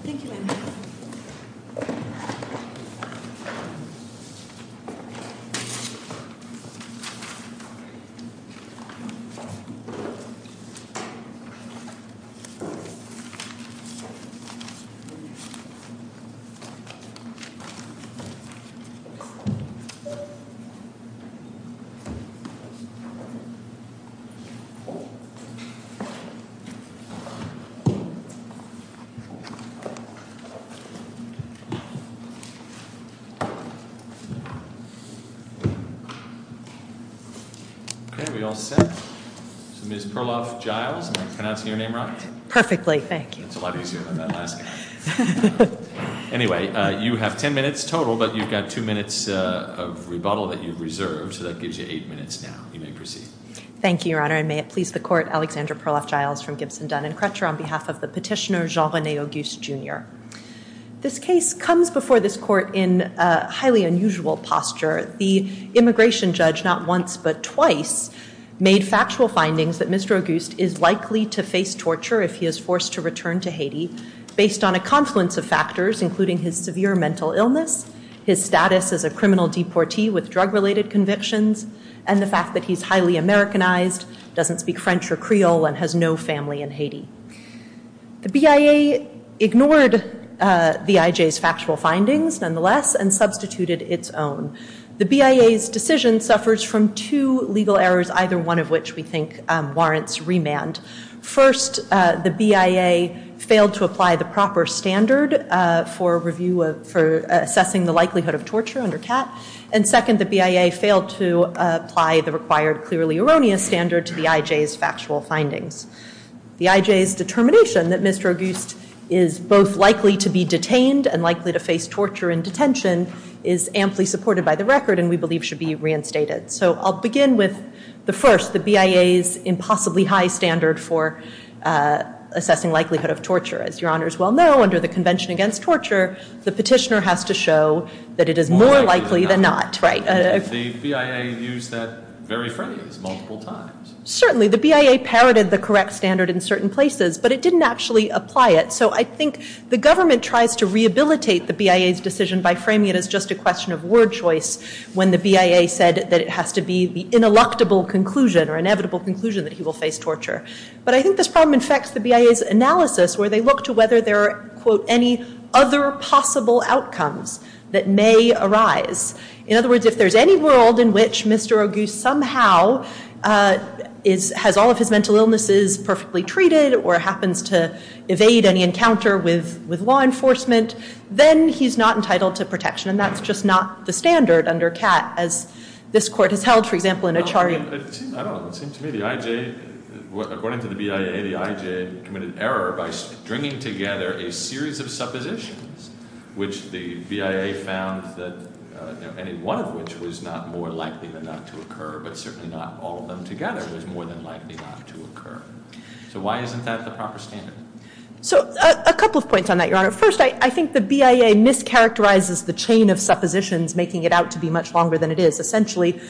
Thank you, ma'am. Miss Perloff Giles, am I pronouncing your name right? Perfectly, thank you. It's a lot easier than that last guy. Anyway, you have ten minutes total, but you've got two minutes of rebuttal that you've reserved. So that gives you eight minutes now. You may proceed. Thank you, Your Honor. And may it please the Court, Alexandra Perloff Giles from Gibson, Dunn & Crutcher, on behalf of the petitioner Jean-René Auguste, Jr. This case comes before this Court in a highly unusual posture. The immigration judge, not once but twice, made factual findings that Mr. Auguste is likely to face torture if he is forced to return to Haiti based on a confluence of factors, including his severe mental illness, his status as a criminal deportee with drug-related convictions, and the fact that he's highly Americanized, doesn't speak French or Creole, and has no family in Haiti. The BIA ignored the IJ's factual findings, nonetheless, and substituted its own. The BIA's decision suffers from two legal errors, either one of which we think warrants remand. First, the BIA failed to apply the proper standard for assessing the likelihood of torture under CAT. And second, the BIA failed to apply the required clearly erroneous standard to the IJ's factual findings. The IJ's determination that Mr. Auguste is both likely to be detained and likely to face torture in detention is amply supported by the record and we believe should be reinstated. So I'll begin with the first, the BIA's impossibly high standard for assessing likelihood of torture. As your honors well know, under the Convention Against Torture, the petitioner has to show that it is more likely than not. The BIA used that very phrase multiple times. Certainly. The BIA parroted the correct standard in certain places, but it didn't actually apply it. So I think the government tries to rehabilitate the BIA's decision by framing it as just a question of word choice when the BIA said that it has to be the ineluctable conclusion or inevitable conclusion that he will face torture. But I think this problem infects the BIA's analysis where they look to whether there are, quote, any other possible outcomes that may arise. In other words, if there's any world in which Mr. Auguste somehow has all of his mental illnesses perfectly treated or happens to evade any encounter with law enforcement, then he's not entitled to protection. And that's just not the standard under CAT as this court has held, for example, in a charge. I don't know. It seems to me the IJ, according to the BIA, the IJ committed error by stringing together a series of suppositions which the BIA found that any one of which was not more likely than not to occur, but certainly not all of them together was more than likely not to occur. So why isn't that the proper standard? So a couple of points on that, Your Honor. First, I think the BIA mischaracterizes the chain of suppositions, making it out to be much longer than it is. Essentially,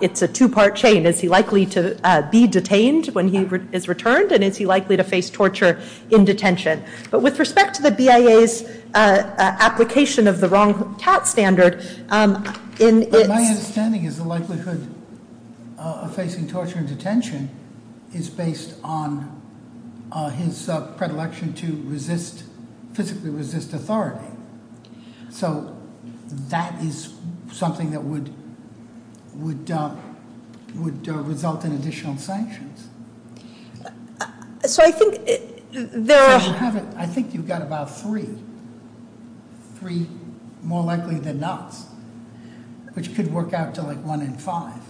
it's a two-part chain. Is he likely to be detained when he is returned? And is he likely to face torture in detention? But with respect to the BIA's application of the wrong CAT standard in its- On his predilection to resist, physically resist authority. So that is something that would result in additional sanctions. So I think there are- I think you've got about three, three more likely than nots, which could work out to like one in five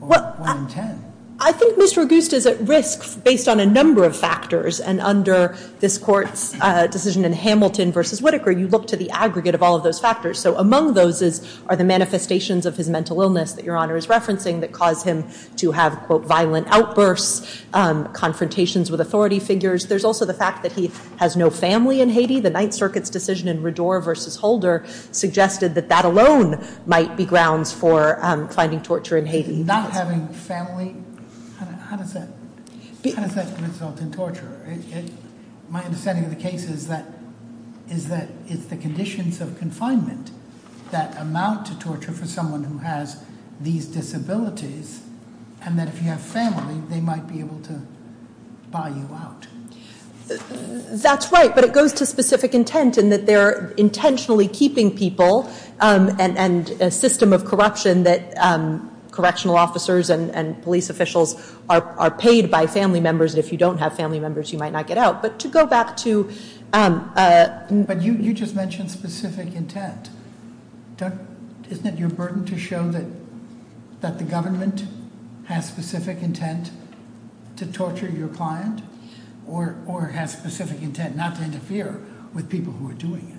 or one in ten. I think Mr. Auguste is at risk based on a number of factors. And under this Court's decision in Hamilton v. Whitaker, you look to the aggregate of all of those factors. So among those are the manifestations of his mental illness that Your Honor is referencing that caused him to have, quote, violent outbursts, confrontations with authority figures. There's also the fact that he has no family in Haiti. The Ninth Circuit's decision in Rador v. Holder suggested that that alone might be grounds for finding torture in Haiti. Not having family, how does that result in torture? My understanding of the case is that it's the conditions of confinement that amount to torture for someone who has these disabilities. And that if you have family, they might be able to buy you out. That's right, but it goes to specific intent in that they're intentionally keeping people and a system of corruption that correctional officers and police officials are paid by family members. And if you don't have family members, you might not get out. But to go back to- But you just mentioned specific intent. Isn't it your burden to show that the government has specific intent to torture your client? Or has specific intent not to interfere with people who are doing it?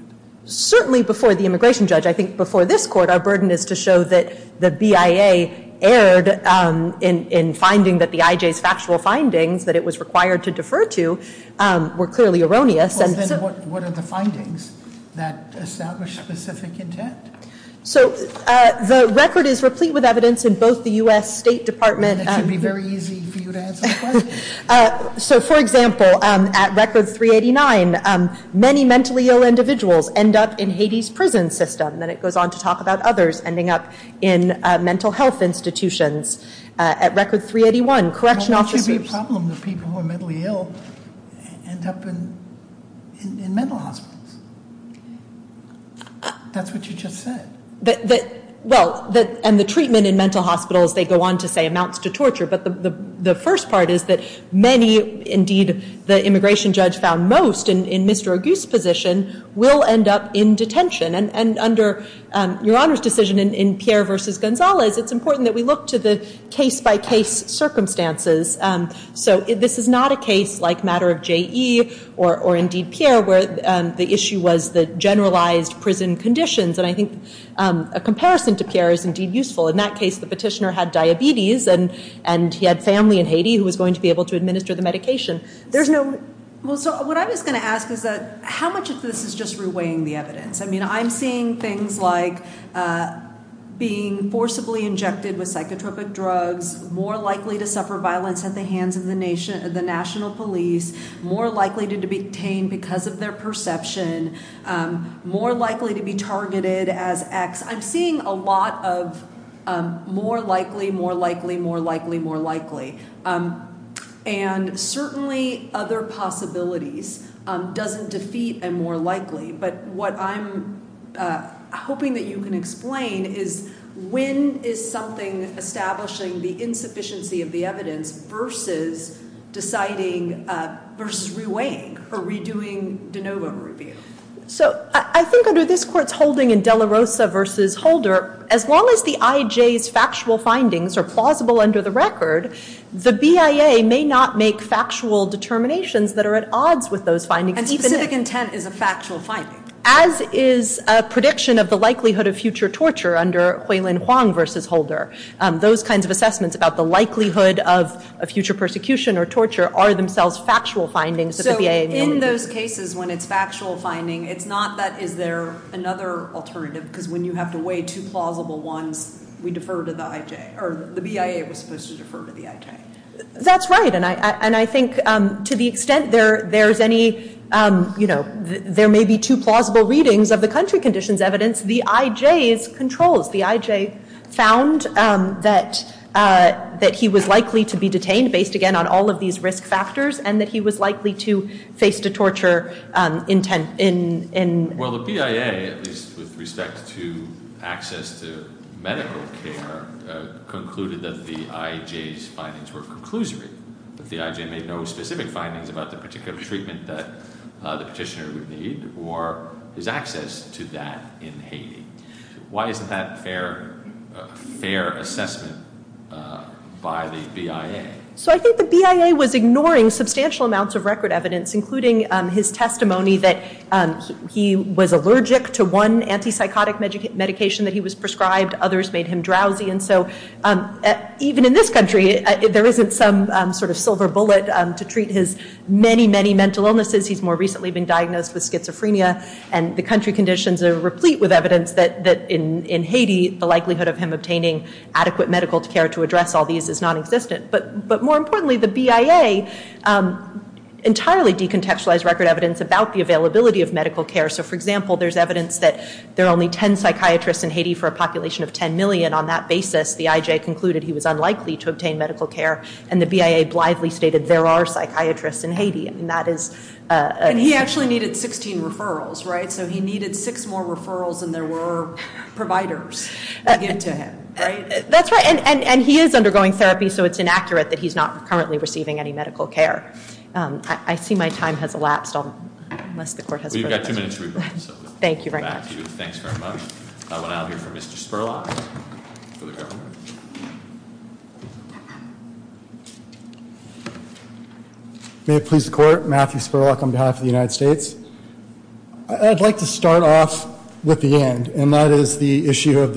Certainly before the immigration judge, I think before this court, our burden is to show that the BIA erred in finding that the IJ's factual findings that it was required to defer to were clearly erroneous. Well, then what are the findings that establish specific intent? So the record is replete with evidence in both the U.S. State Department- That should be very easy for you to answer the question. So, for example, at record 389, many mentally ill individuals end up in Haiti's prison system. Then it goes on to talk about others ending up in mental health institutions. At record 381, correctional officers- Well, what should be a problem if people who are mentally ill end up in mental hospitals? That's what you just said. Well, and the treatment in mental hospitals, they go on to say, amounts to torture. But the first part is that many, indeed, the immigration judge found most in Mr. Auguste's position, will end up in detention. And under Your Honor's decision in Pierre v. Gonzalez, it's important that we look to the case-by-case circumstances. So this is not a case like matter of JE or indeed Pierre where the issue was the generalized prison conditions. And I think a comparison to Pierre is indeed useful. In that case, the petitioner had diabetes and he had family in Haiti who was going to be able to administer the medication. There's no- Well, so what I was going to ask is that how much of this is just reweighing the evidence? I mean, I'm seeing things like being forcibly injected with psychotropic drugs, more likely to suffer violence at the hands of the national police, more likely to be detained because of their perception, more likely to be targeted as X. I'm seeing a lot of more likely, more likely, more likely, more likely. And certainly other possibilities, doesn't defeat a more likely. But what I'm hoping that you can explain is when is something establishing the insufficiency of the evidence versus deciding, versus reweighing or redoing de novo review? So I think under this court's holding in De La Rosa versus Holder, as long as the IJ's factual findings are plausible under the record, the BIA may not make factual determinations that are at odds with those findings. And specific intent is a factual finding. As is a prediction of the likelihood of future torture under Huilin Huang versus Holder. Those kinds of assessments about the likelihood of a future persecution or torture are themselves factual findings of the BIA. So in those cases when it's factual finding, it's not that is there another alternative? Because when you have to weigh two plausible ones, we defer to the IJ. Or the BIA was supposed to defer to the IJ. That's right. And I think to the extent there's any, you know, there may be two plausible readings of the country conditions evidence, the IJ's controls, the IJ found that he was likely to be detained based again on all of these risk factors and that he was likely to face the torture intent in. Well, the BIA, at least with respect to access to medical care, concluded that the IJ's findings were conclusory. That the IJ made no specific findings about the particular treatment that the petitioner would need or his access to that in Haiti. Why isn't that fair assessment by the BIA? So I think the BIA was ignoring substantial amounts of record evidence, including his testimony that he was allergic to one antipsychotic medication that he was prescribed. Others made him drowsy. And so even in this country, there isn't some sort of silver bullet to treat his many, many mental illnesses. He's more recently been diagnosed with schizophrenia. And the country conditions are replete with evidence that in Haiti, the likelihood of him obtaining adequate medical care to address all these is non-existent. But more importantly, the BIA entirely decontextualized record evidence about the availability of medical care. So, for example, there's evidence that there are only 10 psychiatrists in Haiti for a population of 10 million. On that basis, the IJ concluded he was unlikely to obtain medical care. And the BIA blithely stated there are psychiatrists in Haiti. And that is... And he actually needed 16 referrals, right? So he needed six more referrals than there were providers to give to him, right? That's right. And he is undergoing therapy, so it's inaccurate that he's not currently receiving any medical care. I see my time has elapsed, unless the court has further questions. Well, you've got two minutes to revert. Thank you very much. Back to you. Thanks very much. I want to now hear from Mr. Spurlock for the government. May it please the court, Matthew Spurlock on behalf of the United States. I'd like to start off with the end. And that is the issue of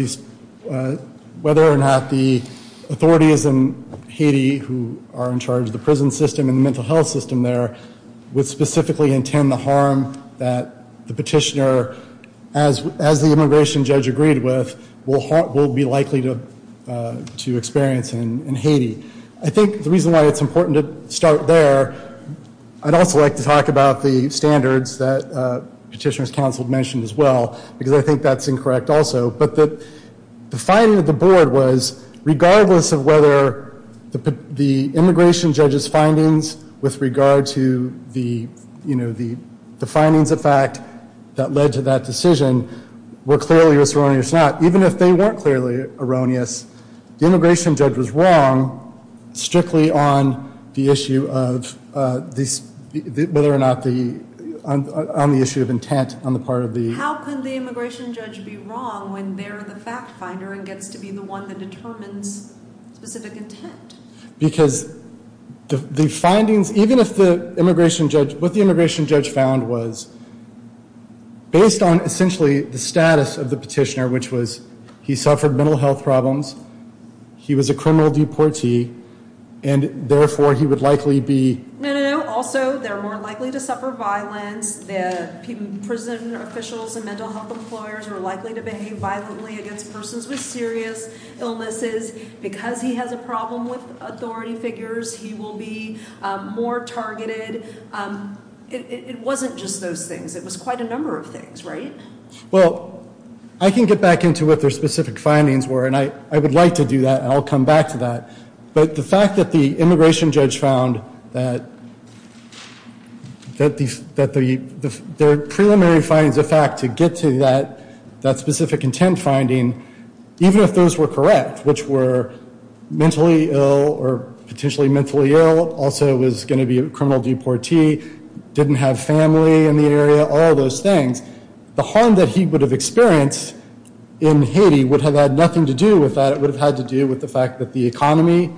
whether or not the authorities in Haiti, who are in charge of the prison system and the mental health system there, would specifically intend the harm that the petitioner, as the immigration judge agreed with, will be likely to experience in Haiti. I think the reason why it's important to start there, I'd also like to talk about the standards that Petitioner's Counsel mentioned as well, because I think that's incorrect also, but the finding of the board was regardless of whether the immigration judge's findings with regard to the findings of fact that led to that decision were clearly erroneous or not, even if they weren't clearly erroneous, the immigration judge was wrong strictly on the issue of whether or not the issue of intent on the part of the immigration judge be wrong when they're the fact finder and gets to be the one that determines specific intent. Because the findings, even if the immigration judge, what the immigration judge found was, based on essentially the status of the petitioner, which was he suffered mental health problems, he was a criminal deportee, and therefore he would likely be. No, no, no. Also, they're more likely to suffer violence. Prison officials and mental health employers are likely to behave violently against persons with serious illnesses. Because he has a problem with authority figures, he will be more targeted. It wasn't just those things. It was quite a number of things, right? Well, I can get back into what their specific findings were, and I would like to do that, and I'll come back to that. But the fact that the immigration judge found that their preliminary findings of fact to get to that specific intent finding, even if those were correct, which were mentally ill or potentially mentally ill, also was going to be a criminal deportee, didn't have family in the area, all of those things, the harm that he would have experienced in Haiti would have had nothing to do with that. It would have had to do with the fact that the economy,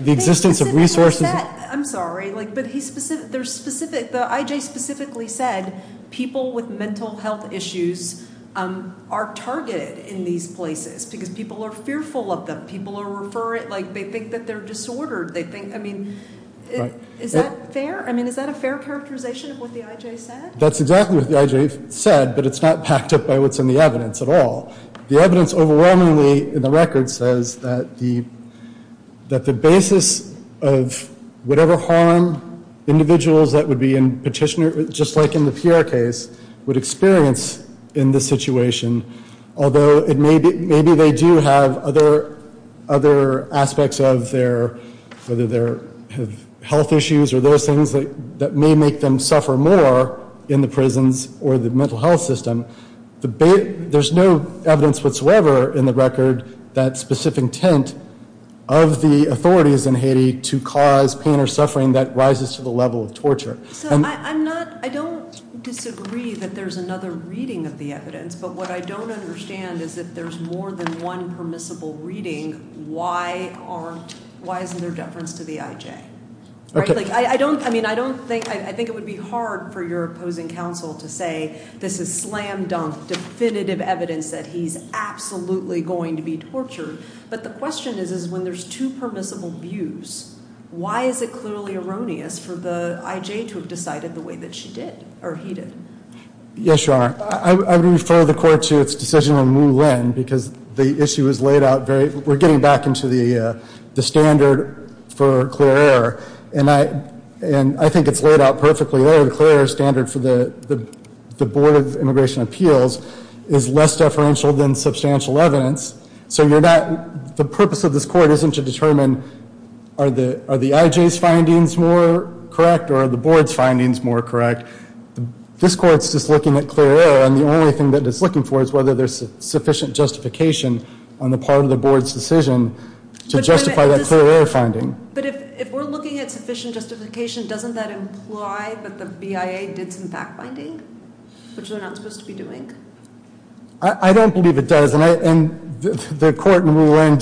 the existence of resources. I'm sorry, but the I.J. specifically said people with mental health issues are targeted in these places because people are fearful of them. People think that they're disordered. Is that fair? Is that a fair characterization of what the I.J. said? That's exactly what the I.J. said, but it's not backed up by what's in the evidence at all. The evidence overwhelmingly in the record says that the basis of whatever harm individuals that would be in petitioner, just like in the Pierre case, would experience in this situation, although maybe they do have other aspects of their health issues or those things that may make them suffer more in the prisons or the mental health system, there's no evidence whatsoever in the record that specific intent of the authorities in Haiti to cause pain or suffering that rises to the level of torture. I don't disagree that there's another reading of the evidence, but what I don't understand is if there's more than one permissible reading, why isn't there deference to the I.J.? I think it would be hard for your opposing counsel to say this is slam-dunk definitive evidence that he's absolutely going to be tortured. But the question is when there's two permissible views, why is it clearly erroneous for the I.J. to have decided the way that she did or he did? Yes, Your Honor. I would refer the court to its decision on Mu Lin because the issue is laid out very – we're getting back into the standard for clear error, and I think it's laid out perfectly there. The clear error standard for the Board of Immigration Appeals is less deferential than substantial evidence. So you're not – the purpose of this court isn't to determine are the I.J.'s findings more correct or are the Board's findings more correct. This court's just looking at clear error, and the only thing that it's looking for is whether there's sufficient justification on the part of the Board's decision to justify that clear error finding. But if we're looking at sufficient justification, doesn't that imply that the BIA did some fact-finding, which they're not supposed to be doing? I don't believe it does. And the court in Mu Lin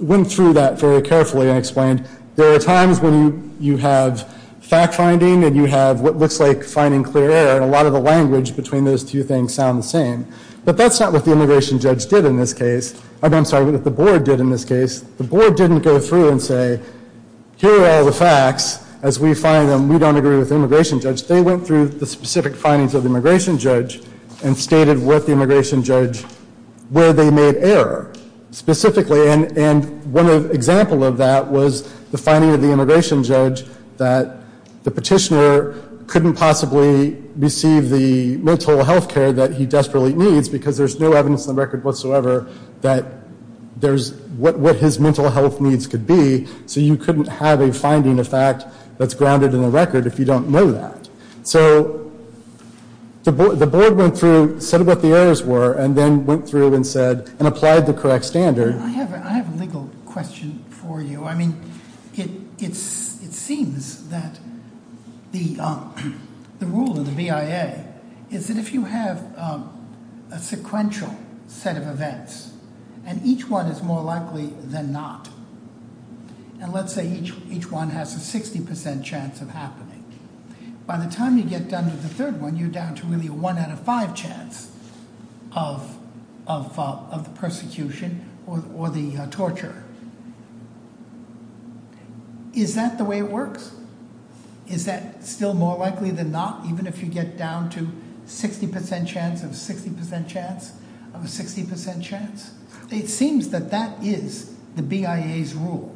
went through that very carefully and explained there are times when you have fact-finding and you have what looks like finding clear error, and a lot of the language between those two things sound the same. But that's not what the immigration judge did in this case – I'm sorry, what the Board did in this case. The Board didn't go through and say, here are all the facts. As we find them, we don't agree with the immigration judge. They went through the specific findings of the immigration judge and stated with the immigration judge where they made error specifically. And one example of that was the finding of the immigration judge that the petitioner couldn't possibly receive the mental health care that he desperately needs because there's no evidence in the record whatsoever that there's – what his mental health needs could be. So you couldn't have a finding of fact that's grounded in the record if you don't know that. So the Board went through, said what the errors were, and then went through and said – and applied the correct standard. I have a legal question for you. I mean, it seems that the rule of the BIA is that if you have a sequential set of events, and each one is more likely than not, and let's say each one has a 60% chance of happening, by the time you get done with the third one, you're down to really a one out of five chance of the persecution or the torture. Is that the way it works? Is that still more likely than not, even if you get down to 60% chance of 60% chance of a 60% chance? It seems that that is the BIA's rule.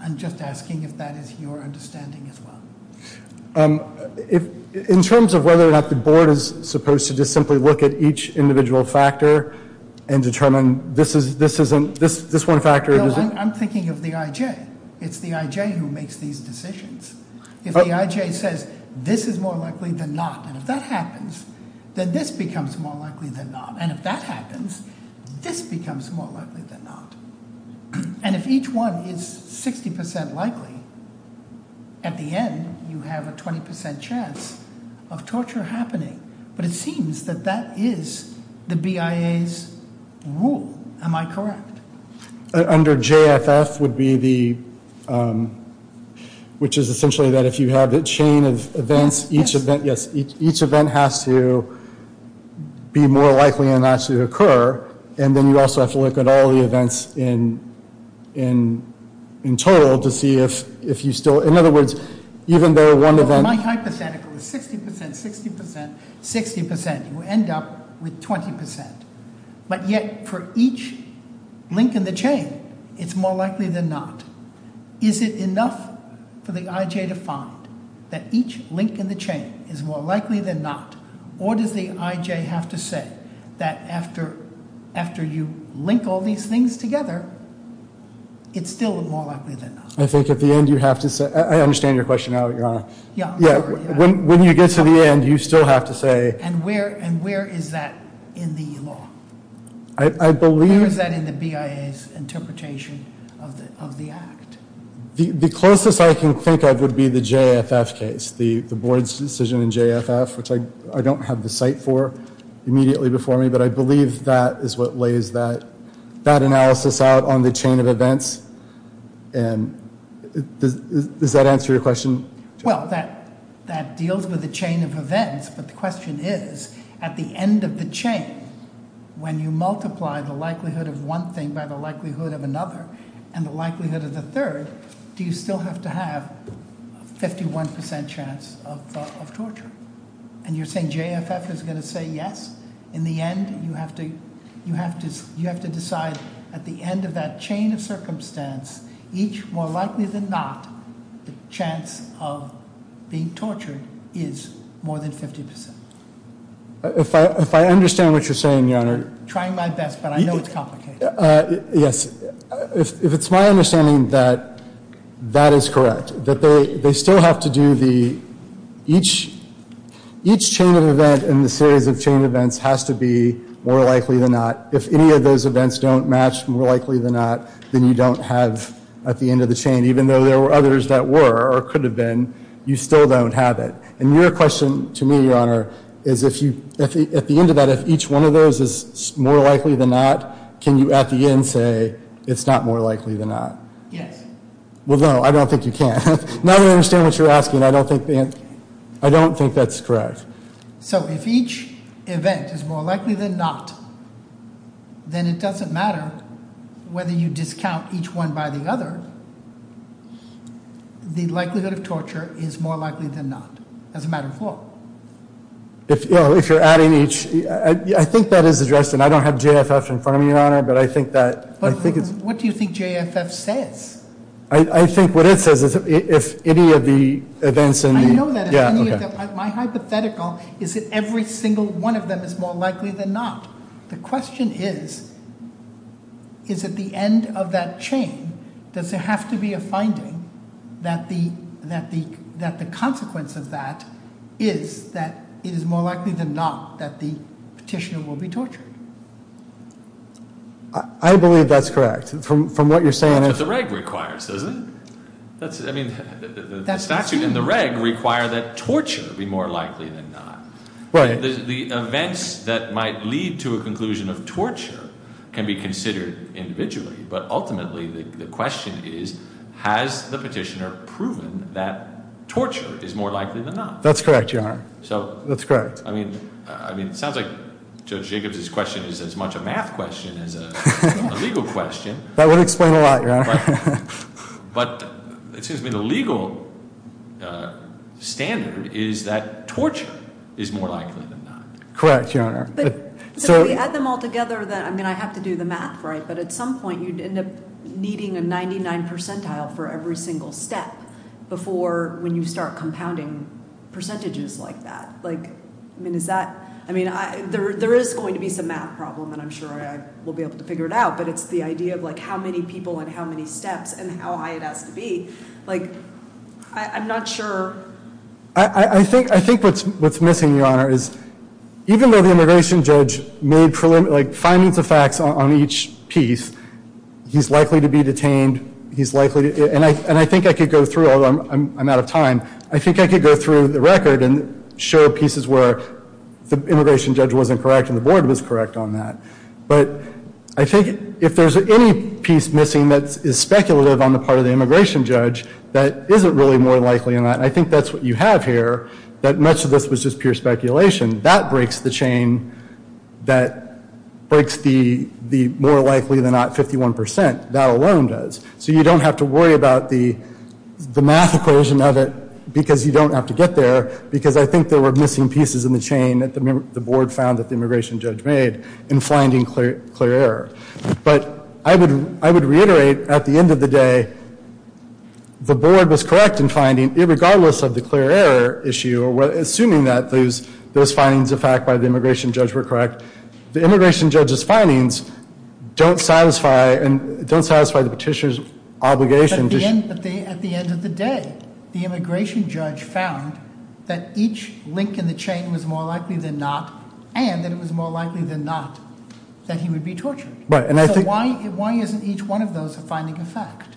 I'm just asking if that is your understanding as well. In terms of whether or not the Board is supposed to just simply look at each individual factor and determine this one factor – Bill, I'm thinking of the IJ. It's the IJ who makes these decisions. If the IJ says this is more likely than not, and if that happens, then this becomes more likely than not. And if that happens, this becomes more likely than not. And if each one is 60% likely, at the end you have a 20% chance of torture happening. But it seems that that is the BIA's rule. Am I correct? Under JFF, which is essentially that if you have a chain of events, each event has to be more likely than not to occur, and then you also have to look at all the events in total to see if you still – in other words, even though one event – My hypothetical is 60%, 60%, 60%. You end up with 20%. But yet, for each link in the chain, it's more likely than not. Is it enough for the IJ to find that each link in the chain is more likely than not? Or does the IJ have to say that after you link all these things together, it's still more likely than not? I think at the end you have to say – I understand your question now, Your Honor. Yeah. When you get to the end, you still have to say – And where is that in the law? I believe – Where is that in the BIA's interpretation of the act? The closest I can think of would be the JFF case, the board's decision in JFF, which I don't have the cite for immediately before me. But I believe that is what lays that analysis out on the chain of events. And does that answer your question? Well, that deals with the chain of events. But the question is, at the end of the chain, when you multiply the likelihood of one thing by the likelihood of another and the likelihood of the third, do you still have to have a 51% chance of torture? And you're saying JFF is going to say yes? In the end, you have to decide at the end of that chain of circumstance, each more likely than not, the chance of being tortured is more than 50%. If I understand what you're saying, Your Honor – I'm trying my best, but I know it's complicated. Yes. If it's my understanding that that is correct, that they still have to do the – each chain of event in the series of chain events has to be more likely than not. If any of those events don't match more likely than not, then you don't have, at the end of the chain, even though there were others that were or could have been, you still don't have it. And your question to me, Your Honor, is at the end of that, if each one of those is more likely than not, can you at the end say it's not more likely than not? Yes. Well, no, I don't think you can. Now that I understand what you're asking, I don't think that's correct. So if each event is more likely than not, then it doesn't matter whether you discount each one by the other. The likelihood of torture is more likely than not, as a matter of law. If you're adding each – I think that is addressed, and I don't have JFF in front of me, Your Honor, but I think that – But what do you think JFF says? I think what it says is if any of the events in the – is that every single one of them is more likely than not. The question is, is at the end of that chain, does there have to be a finding that the consequence of that is that it is more likely than not that the petitioner will be tortured? I believe that's correct. From what you're saying – That's what the reg requires, doesn't it? I mean, the statute and the reg require that torture be more likely than not. Right. The events that might lead to a conclusion of torture can be considered individually, but ultimately the question is, has the petitioner proven that torture is more likely than not? That's correct, Your Honor. So – That's correct. I mean, it sounds like Judge Jacobs' question is as much a math question as a legal question. That would explain a lot, Your Honor. But it seems to me the legal standard is that torture is more likely than not. Correct, Your Honor. But if we add them all together, then – I mean, I have to do the math, right? But at some point you'd end up needing a 99 percentile for every single step before – when you start compounding percentages like that. I mean, is that – I mean, there is going to be some math problem, and I'm sure I will be able to figure it out. But it's the idea of, like, how many people and how many steps and how high it has to be. Like, I'm not sure – I think what's missing, Your Honor, is even though the immigration judge made, like, findings of facts on each piece, he's likely to be detained. He's likely – and I think I could go through – although I'm out of time. I think I could go through the record and show pieces where the immigration judge wasn't correct and the board was correct on that. But I think if there's any piece missing that is speculative on the part of the immigration judge, that isn't really more likely than not. And I think that's what you have here, that much of this was just pure speculation. That breaks the chain that breaks the more likely than not 51 percent. That alone does. So you don't have to worry about the math equation of it because you don't have to get there because I think there were missing pieces in the chain that the board found that the immigration judge made in finding clear error. But I would reiterate, at the end of the day, the board was correct in finding, regardless of the clear error issue, assuming that those findings of fact by the immigration judge were correct, the immigration judge's findings don't satisfy the petitioner's obligation. But at the end of the day, the immigration judge found that each link in the chain was more likely than not and that it was more likely than not that he would be tortured. Right. So why isn't each one of those a finding of fact?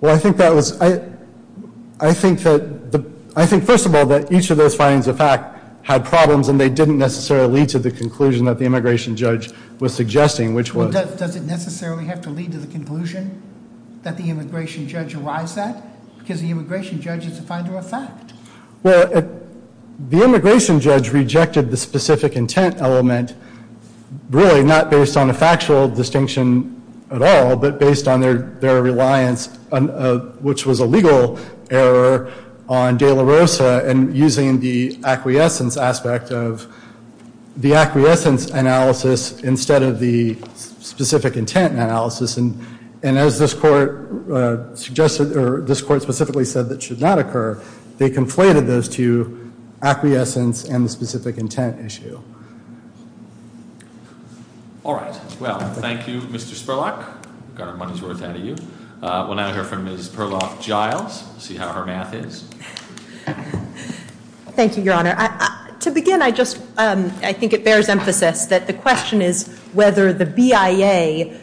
Well, I think that was, I think that, I think first of all that each of those findings of fact had problems and they didn't necessarily lead to the conclusion that the immigration judge was suggesting, which was. Does it necessarily have to lead to the conclusion that the immigration judge arrives at? Because the immigration judge is a finder of fact. Well, the immigration judge rejected the specific intent element, really not based on a factual distinction at all, but based on their reliance, which was a legal error on de la Rosa and using the acquiescence aspect of the acquiescence analysis instead of the specific intent analysis. And as this court suggested, or this court specifically said that should not occur, they conflated those two, acquiescence and the specific intent issue. All right. Well, thank you, Mr. Spurlock. Got our money's worth out of you. We'll now hear from Ms. Perloff-Giles, see how her math is. Thank you, Your Honor. To begin, I just, I think it bears emphasis that the question is whether the BIA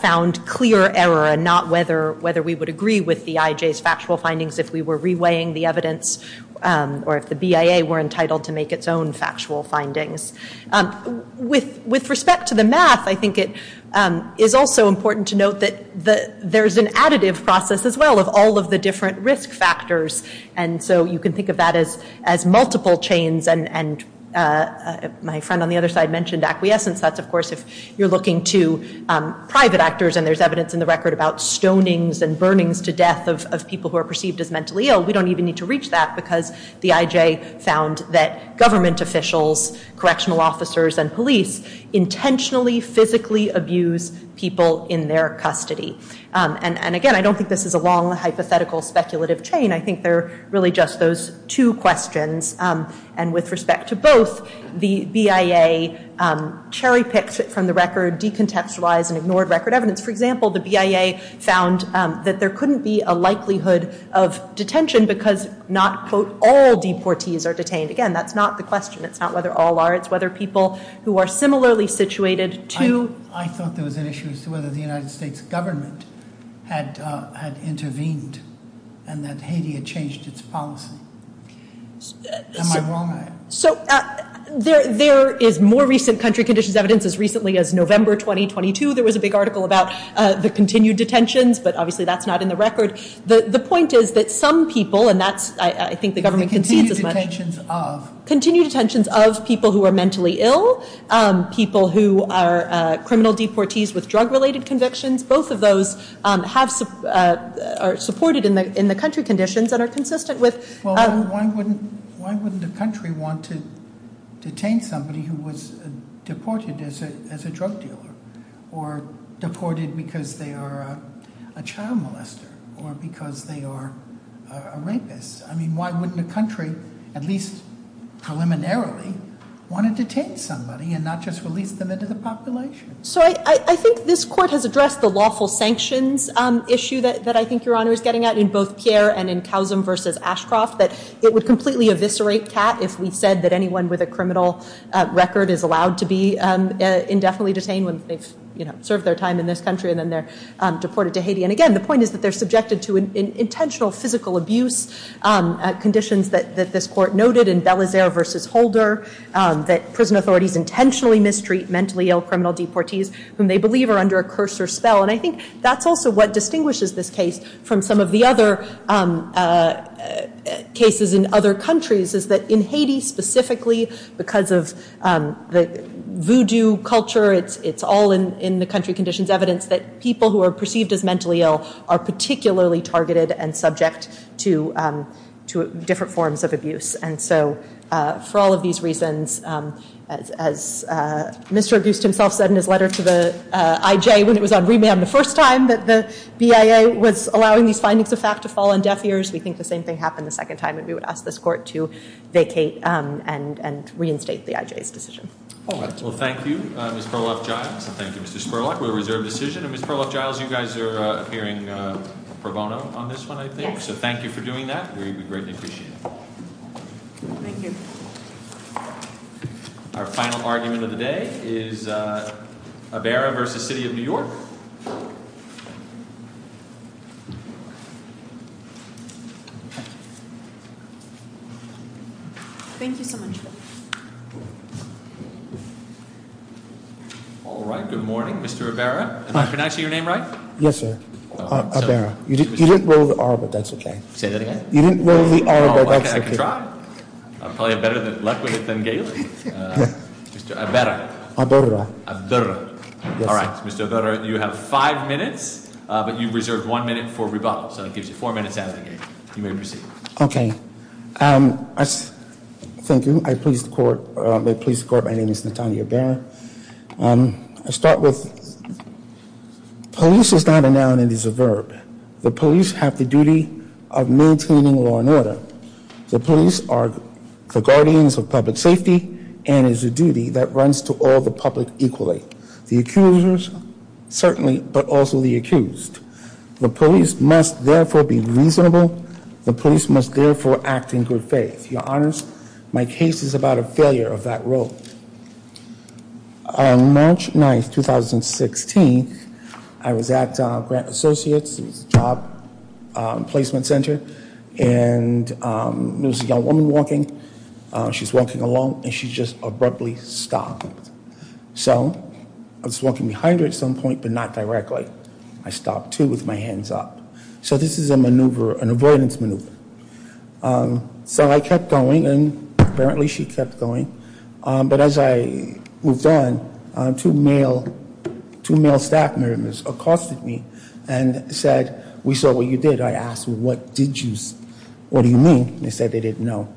found clear error and not whether we would agree with the IJ's factual findings if we were reweighing the evidence or if the BIA were entitled to make its own factual findings. With respect to the math, I think it is also important to note that there's an additive process as well of all of the different risk factors, and so you can think of that as multiple chains. And my friend on the other side mentioned acquiescence. That's, of course, if you're looking to private actors, and there's evidence in the record about stonings and burnings to death of people who are perceived as mentally ill. We don't even need to reach that because the IJ found that government officials, correctional officers, and police intentionally, physically abuse people in their custody. And again, I don't think this is a long, hypothetical, speculative chain. I think they're really just those two questions. And with respect to both, the BIA cherry-picked it from the record, decontextualized it, and ignored record evidence. For example, the BIA found that there couldn't be a likelihood of detention because not, quote, all deportees are detained. Again, that's not the question. It's not whether all are. It's whether people who are similarly situated to... I thought there was an issue as to whether the United States government had intervened and that Haiti had changed its policy. Am I wrong? So, there is more recent country conditions evidence as recently as November 2022. There was a big article about the continued detentions, but obviously that's not in the record. The point is that some people, and that's, I think, the government can see this much. The continued detentions of? Continued detentions of people who are mentally ill, people who are criminal deportees with drug-related convictions. Both of those are supported in the country conditions and are consistent with... Well, why wouldn't a country want to detain somebody who was deported as a drug dealer or deported because they are a child molester or because they are a rapist? I mean, why wouldn't a country, at least preliminarily, want to detain somebody and not just release them into the population? So, I think this court has addressed the lawful sanctions issue that I think Your Honor is getting at in both Pierre and in Kazim versus Ashcroft, that it would completely eviscerate CAT if we said that anyone with a criminal record is allowed to be indefinitely detained when they've served their time in this country and then they're deported to Haiti. And again, the point is that they're subjected to intentional physical abuse conditions that this court noted in Bellazer versus Holder, that prison authorities intentionally mistreat mentally ill criminal deportees whom they believe are under a curse or spell. And I think that's also what distinguishes this case from some of the other cases in other countries, is that in Haiti specifically, because of the voodoo culture, it's all in the country conditions evidence that people who are perceived as mentally ill are particularly targeted and subject to different forms of abuse. And so, for all of these reasons, as Mr. Auguste himself said in his letter to the IJ when it was on remand the first time that the BIA was allowing these findings of fact to fall on deaf ears, we think the same thing happened the second time and we would ask this court to vacate and reinstate the IJ's decision. Well, thank you, Ms. Perloff-Giles, and thank you, Mr. Spurlock. We're a reserved decision. And Ms. Perloff-Giles, you guys are appearing pro bono on this one, I think. So thank you for doing that. We greatly appreciate it. Thank you. Our final argument of the day is Ibarra v. City of New York. Thank you so much. All right, good morning, Mr. Ibarra. Am I pronouncing your name right? Yes, sir, Ibarra. You didn't roll the R, but that's okay. Say that again? You didn't roll the R, but that's okay. I can try. I'm probably a better, more eloquent than Galey. Mr. Ibarra. Ibarra. Ibarra. All right, Mr. Ibarra, you have five minutes, but you reserved one minute for rebuttal. So that gives you four minutes out of the game. You may proceed. Okay. Thank you. I please the court. I please the court. My name is Natanya Ibarra. I'll start with police is not a noun, it is a verb. The police have the duty of maintaining law and order. The police are the guardians of public safety and is a duty that runs to all the public equally. The accusers, certainly, but also the accused. The police must, therefore, be reasonable. The police must, therefore, act in good faith. Your honors, my case is about a failure of that role. On March 9th, 2016, I was at Grant Associates. It was a job placement center, and there was a young woman walking. She's walking along, and she just abruptly stopped. So I was walking behind her at some point, but not directly. I stopped, too, with my hands up. So this is a maneuver, an avoidance maneuver. So I kept going, and apparently she kept going. But as I moved on, two male staff members accosted me and said, we saw what you did. I asked, what do you mean? They said they didn't know.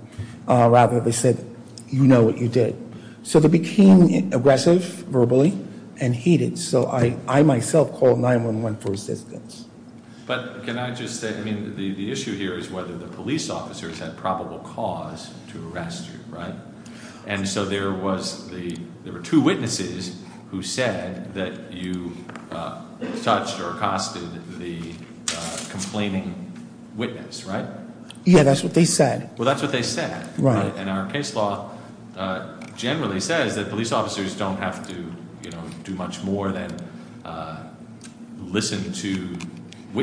Rather, they said, you know what you did. So they became aggressive, verbally, and heated. So I myself called 911 for assistance. But can I just say, I mean, the issue here is whether the police officers had probable cause to arrest you, right? And so there were two witnesses who said that you touched or accosted the complaining witness, right? Yeah, that's what they said. Well, that's what they said. Right. And our case law generally says that police officers don't have to do much more than listen to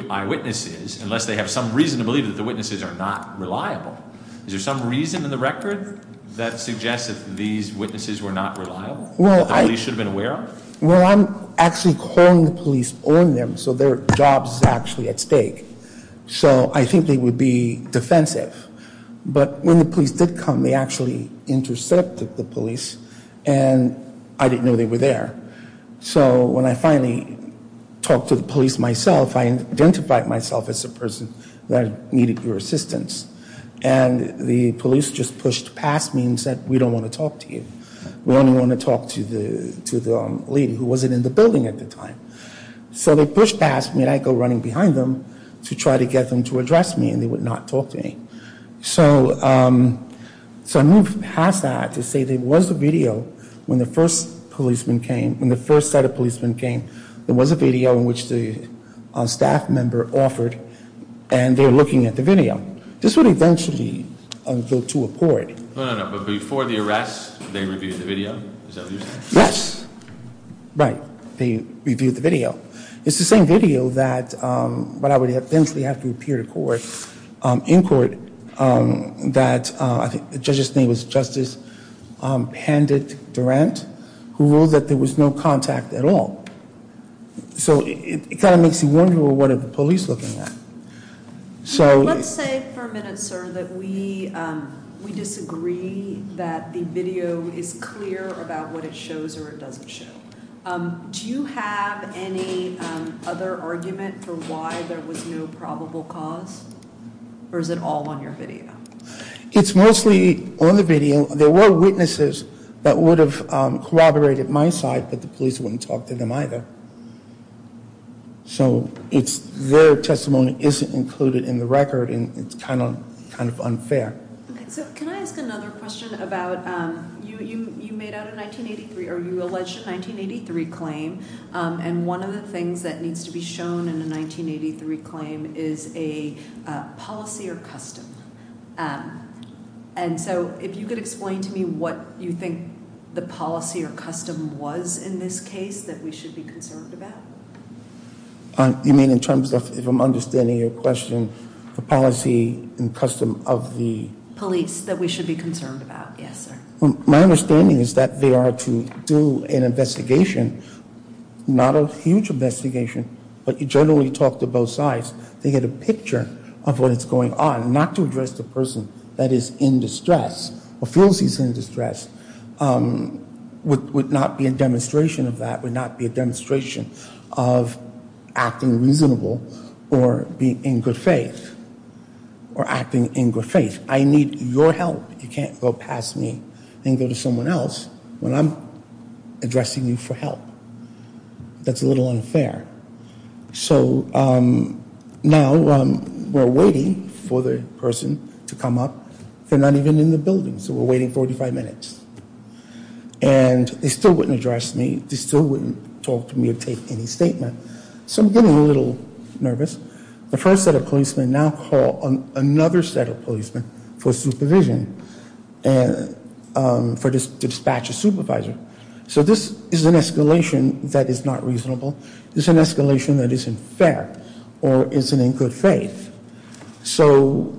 eyewitnesses, unless they have some reason to believe that the witnesses are not reliable. Is there some reason in the record that suggests that these witnesses were not reliable? That the police should have been aware of? Well, I'm actually calling the police on them so their job is actually at stake. So I think they would be defensive. But when the police did come, they actually intercepted the police, and I didn't know they were there. So when I finally talked to the police myself, I identified myself as the person that needed your assistance. And the police just pushed past me and said, we don't want to talk to you. We only want to talk to the lady who wasn't in the building at the time. So they pushed past me, and I go running behind them to try to get them to address me, and they would not talk to me. So I moved past that to say there was a video when the first set of policemen came. There was a video in which the staff member offered, and they were looking at the video. This would eventually go to a court. No, no, no. But before the arrest, they reviewed the video? Is that what you're saying? Yes. Right. They reviewed the video. It's the same video that would eventually have to appear in court that the judge's name was Justice Pandit Durant, who ruled that there was no contact at all. So it kind of makes you wonder, well, what are the police looking at? Let's say for a minute, sir, that we disagree that the video is clear about what it shows or it doesn't show. Do you have any other argument for why there was no probable cause, or is it all on your video? It's mostly on the video. There were witnesses that would have corroborated my side, but the police wouldn't talk to them either. So their testimony isn't included in the record, and it's kind of unfair. So can I ask another question about, you made out a 1983, or you alleged a 1983 claim, and one of the things that needs to be shown in a 1983 claim is a policy or custom. And so if you could explain to me what you think the policy or custom was in this case that we should be concerned about? You mean in terms of, if I'm understanding your question, the policy and custom of the... Police that we should be concerned about, yes, sir. My understanding is that they are to do an investigation, not a huge investigation, but you generally talk to both sides. They get a picture of what is going on. Not to address the person that is in distress or feels he's in distress would not be a demonstration of that, would not be a demonstration of acting reasonable or being in good faith or acting in good faith. I need your help. You can't go past me and go to someone else when I'm addressing you for help. That's a little unfair. So now we're waiting for the person to come up. They're not even in the building, so we're waiting 45 minutes. And they still wouldn't address me. They still wouldn't talk to me or take any statement. So I'm getting a little nervous. The first set of policemen now call another set of policemen for supervision and for dispatch a supervisor. So this is an escalation that is not reasonable. It's an escalation that isn't fair or isn't in good faith. So-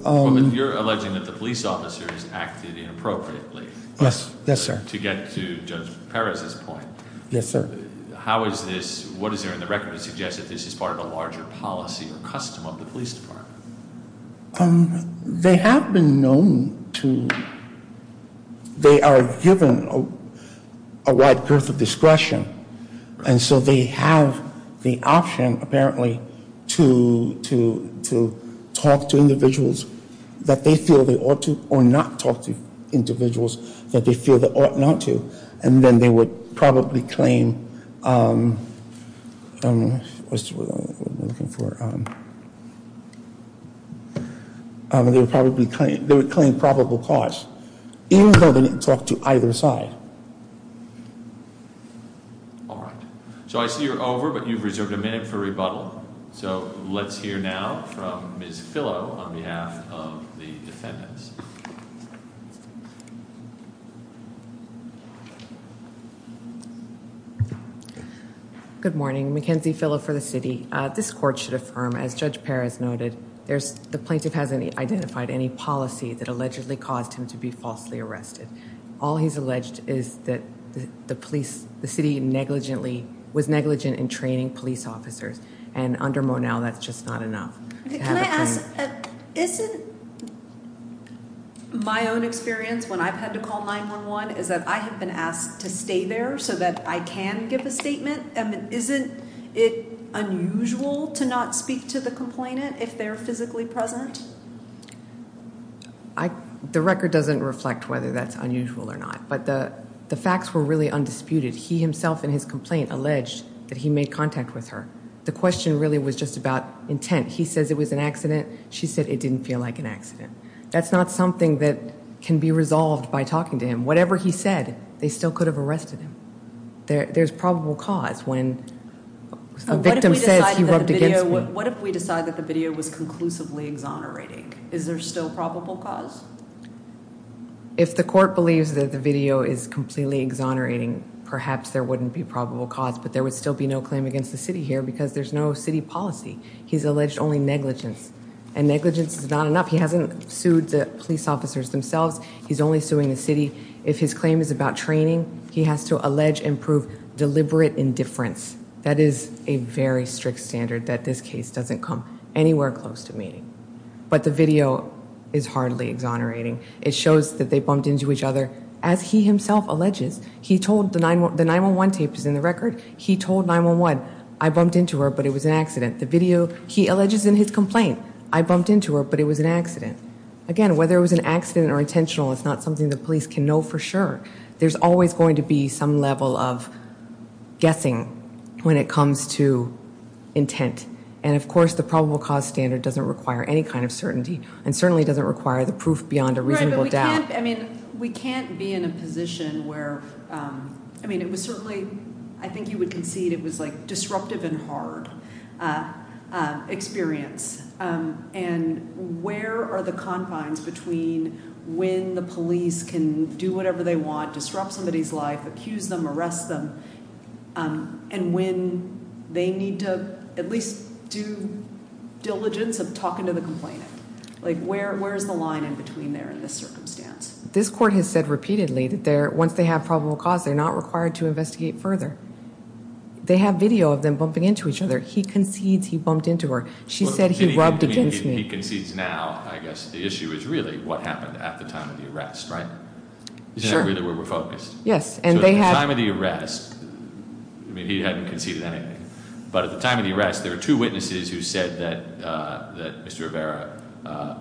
You're alleging that the police officer has acted inappropriately. Yes, yes, sir. To get to Judge Perez's point. Yes, sir. How is this, what is there in the record to suggest that this is part of a larger policy or custom of the police department? They have been known to, they are given a wide girth of discretion. And so they have the option, apparently, to talk to individuals that they feel they ought to or not talk to individuals that they feel they ought not to. And then they would probably claim, I don't know what we're looking for. They would probably claim probable cause, even though they didn't talk to either side. All right. So I see you're over, but you've reserved a minute for rebuttal. So let's hear now from Ms. Fillo on behalf of the defendants. Good morning. Mackenzie Fillo for the city. This court should affirm, as Judge Perez noted, the plaintiff hasn't identified any policy that allegedly caused him to be falsely arrested. All he's alleged is that the police, the city negligently, was negligent in training police officers. And under Monell, that's just not enough. Can I ask, isn't my own experience when I've had to call 911 is that I have been asked to stay there so that I can give a statement? Isn't it unusual to not speak to the complainant if they're physically present? The record doesn't reflect whether that's unusual or not, but the facts were really undisputed. He himself in his complaint alleged that he made contact with her. The question really was just about intent. He says it was an accident. She said it didn't feel like an accident. That's not something that can be resolved by talking to him. Whatever he said, they still could have arrested him. There's probable cause when a victim says he rubbed against me. What if we decide that the video was conclusively exonerating? Is there still probable cause? If the court believes that the video is completely exonerating, perhaps there wouldn't be probable cause. But there would still be no claim against the city here because there's no city policy. He's alleged only negligence. And negligence is not enough. He hasn't sued the police officers themselves. He's only suing the city. If his claim is about training, he has to allege and prove deliberate indifference. That is a very strict standard that this case doesn't come anywhere close to meeting. But the video is hardly exonerating. It shows that they bumped into each other. As he himself alleges, he told the 9-1-1, the 9-1-1 tape is in the record. He told 9-1-1, I bumped into her, but it was an accident. The video he alleges in his complaint, I bumped into her, but it was an accident. Again, whether it was an accident or intentional, it's not something the police can know for sure. There's always going to be some level of guessing when it comes to intent. And, of course, the probable cause standard doesn't require any kind of certainty and certainly doesn't require the proof beyond a reasonable doubt. We can't be in a position where, I mean, it was certainly, I think you would concede it was disruptive and hard experience. And where are the confines between when the police can do whatever they want, disrupt somebody's life, accuse them, arrest them, and when they need to at least do diligence of talking to the complainant? Like, where is the line in between there in this circumstance? This court has said repeatedly that once they have probable cause, they're not required to investigate further. They have video of them bumping into each other. He concedes he bumped into her. She said he rubbed against me. He concedes now, I guess the issue is really what happened at the time of the arrest, right? Sure. Isn't that really where we're focused? Yes, and they have- So at the time of the arrest, I mean, he hadn't conceded anything. But at the time of the arrest, there were two witnesses who said that Mr. Rivera, a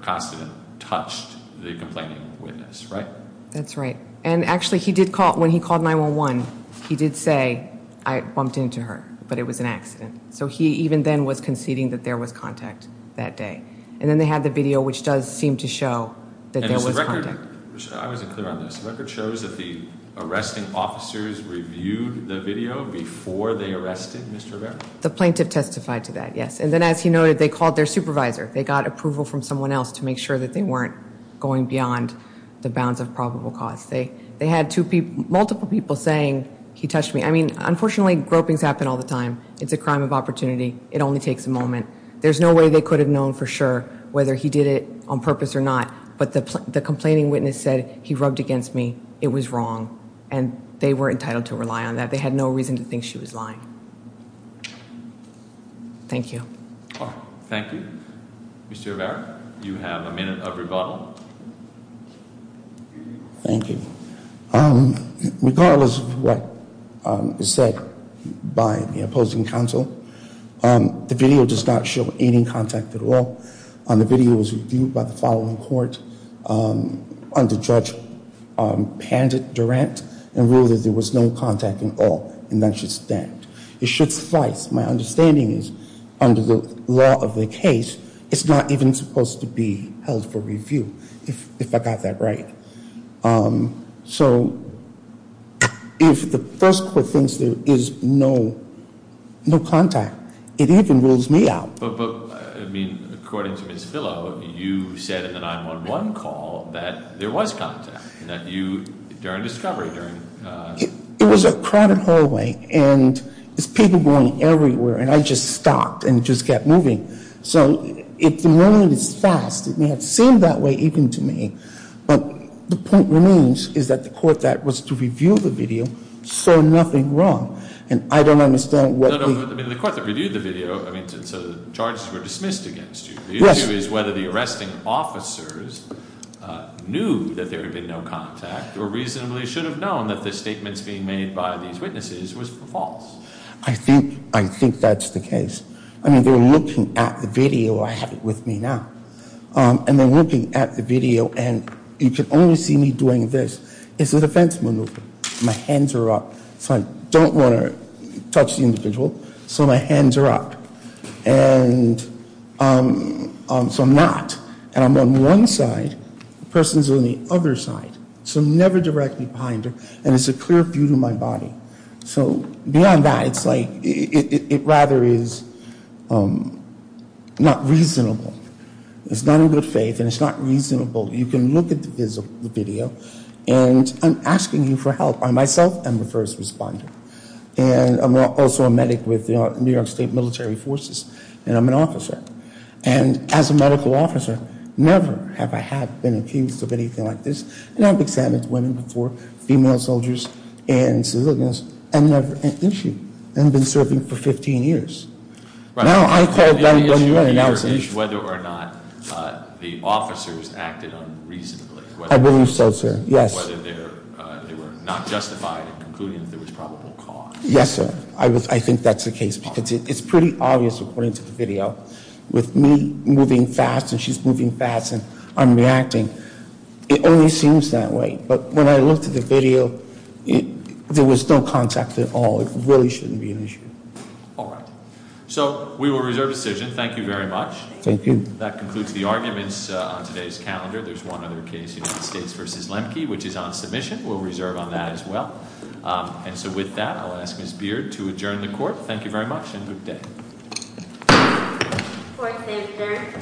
constant, touched the complaining witness, right? That's right. And actually, when he called 911, he did say, I bumped into her, but it was an accident. So he even then was conceding that there was contact that day. And then they had the video, which does seem to show that there was contact. And is the record, which I wasn't clear on this, the record shows that the arresting officers reviewed the video before they arrested Mr. Rivera? The plaintiff testified to that, yes. And then as he noted, they called their supervisor. They got approval from someone else to make sure that they weren't going beyond the bounds of probable cause. They had multiple people saying, he touched me. I mean, unfortunately, gropings happen all the time. It's a crime of opportunity. It only takes a moment. There's no way they could have known for sure whether he did it on purpose or not. But the complaining witness said, he rubbed against me. It was wrong. And they were entitled to rely on that. They had no reason to think she was lying. Thank you. Thank you. Mr. Rivera, you have a minute of rebuttal. Thank you. Regardless of what is said by the opposing counsel, the video does not show any contact at all. The video was reviewed by the following court under Judge Pandit Durant and ruled that there was no contact at all. And that should stand. It should suffice. My understanding is, under the law of the case, it's not even supposed to be held for review, if I got that right. So, if the first court thinks there is no contact, it even rules me out. But, I mean, according to Ms. Fillo, you said in the 911 call that there was contact. That you, during discovery, during It was a crowded hallway, and there's people going everywhere, and I just stopped and just kept moving. So, if the moment is fast, it may have seemed that way even to me. But the point remains is that the court that was to review the video saw nothing wrong. And I don't understand what the No, no, but the court that reviewed the video, I mean, so the charges were dismissed against you. Yes. The issue is whether the arresting officers knew that there had been no contact or reasonably should have known that the statements being made by these witnesses was false. I think that's the case. I mean, they were looking at the video. I have it with me now. And they're looking at the video, and you could only see me doing this. It's a defense maneuver. My hands are up, so I don't want to touch the individual. So my hands are up. And so I'm not. And I'm on one side. The person's on the other side. So never direct me behind her. And it's a clear view to my body. So beyond that, it's like, it rather is not reasonable. It's not in good faith, and it's not reasonable. You can look at the video. And I'm asking you for help. I, myself, am the first responder. And I'm also a medic with New York State Military Forces. And I'm an officer. And as a medical officer, never have I had been accused of anything like this. And I've examined women before, female soldiers, and civilians, and never an issue. And I've been serving for 15 years. Now, I call that an announcement. The issue here is whether or not the officers acted unreasonably. I believe so, sir. Yes. Whether they were not justified in concluding that there was probable cause. Yes, sir. I think that's the case. Because it's pretty obvious, according to the video, with me moving fast and she's moving fast and I'm reacting. It only seems that way. But when I looked at the video, there was no contact at all. It really shouldn't be an issue. All right. So we will reserve decision. Thank you very much. Thank you. That concludes the arguments on today's calendar. There's one other case, United States v. Lemke, which is on submission. We'll reserve on that as well. And so with that, I'll ask Ms. Beard to adjourn the court. Thank you very much and good day. Court is adjourned. Thank you.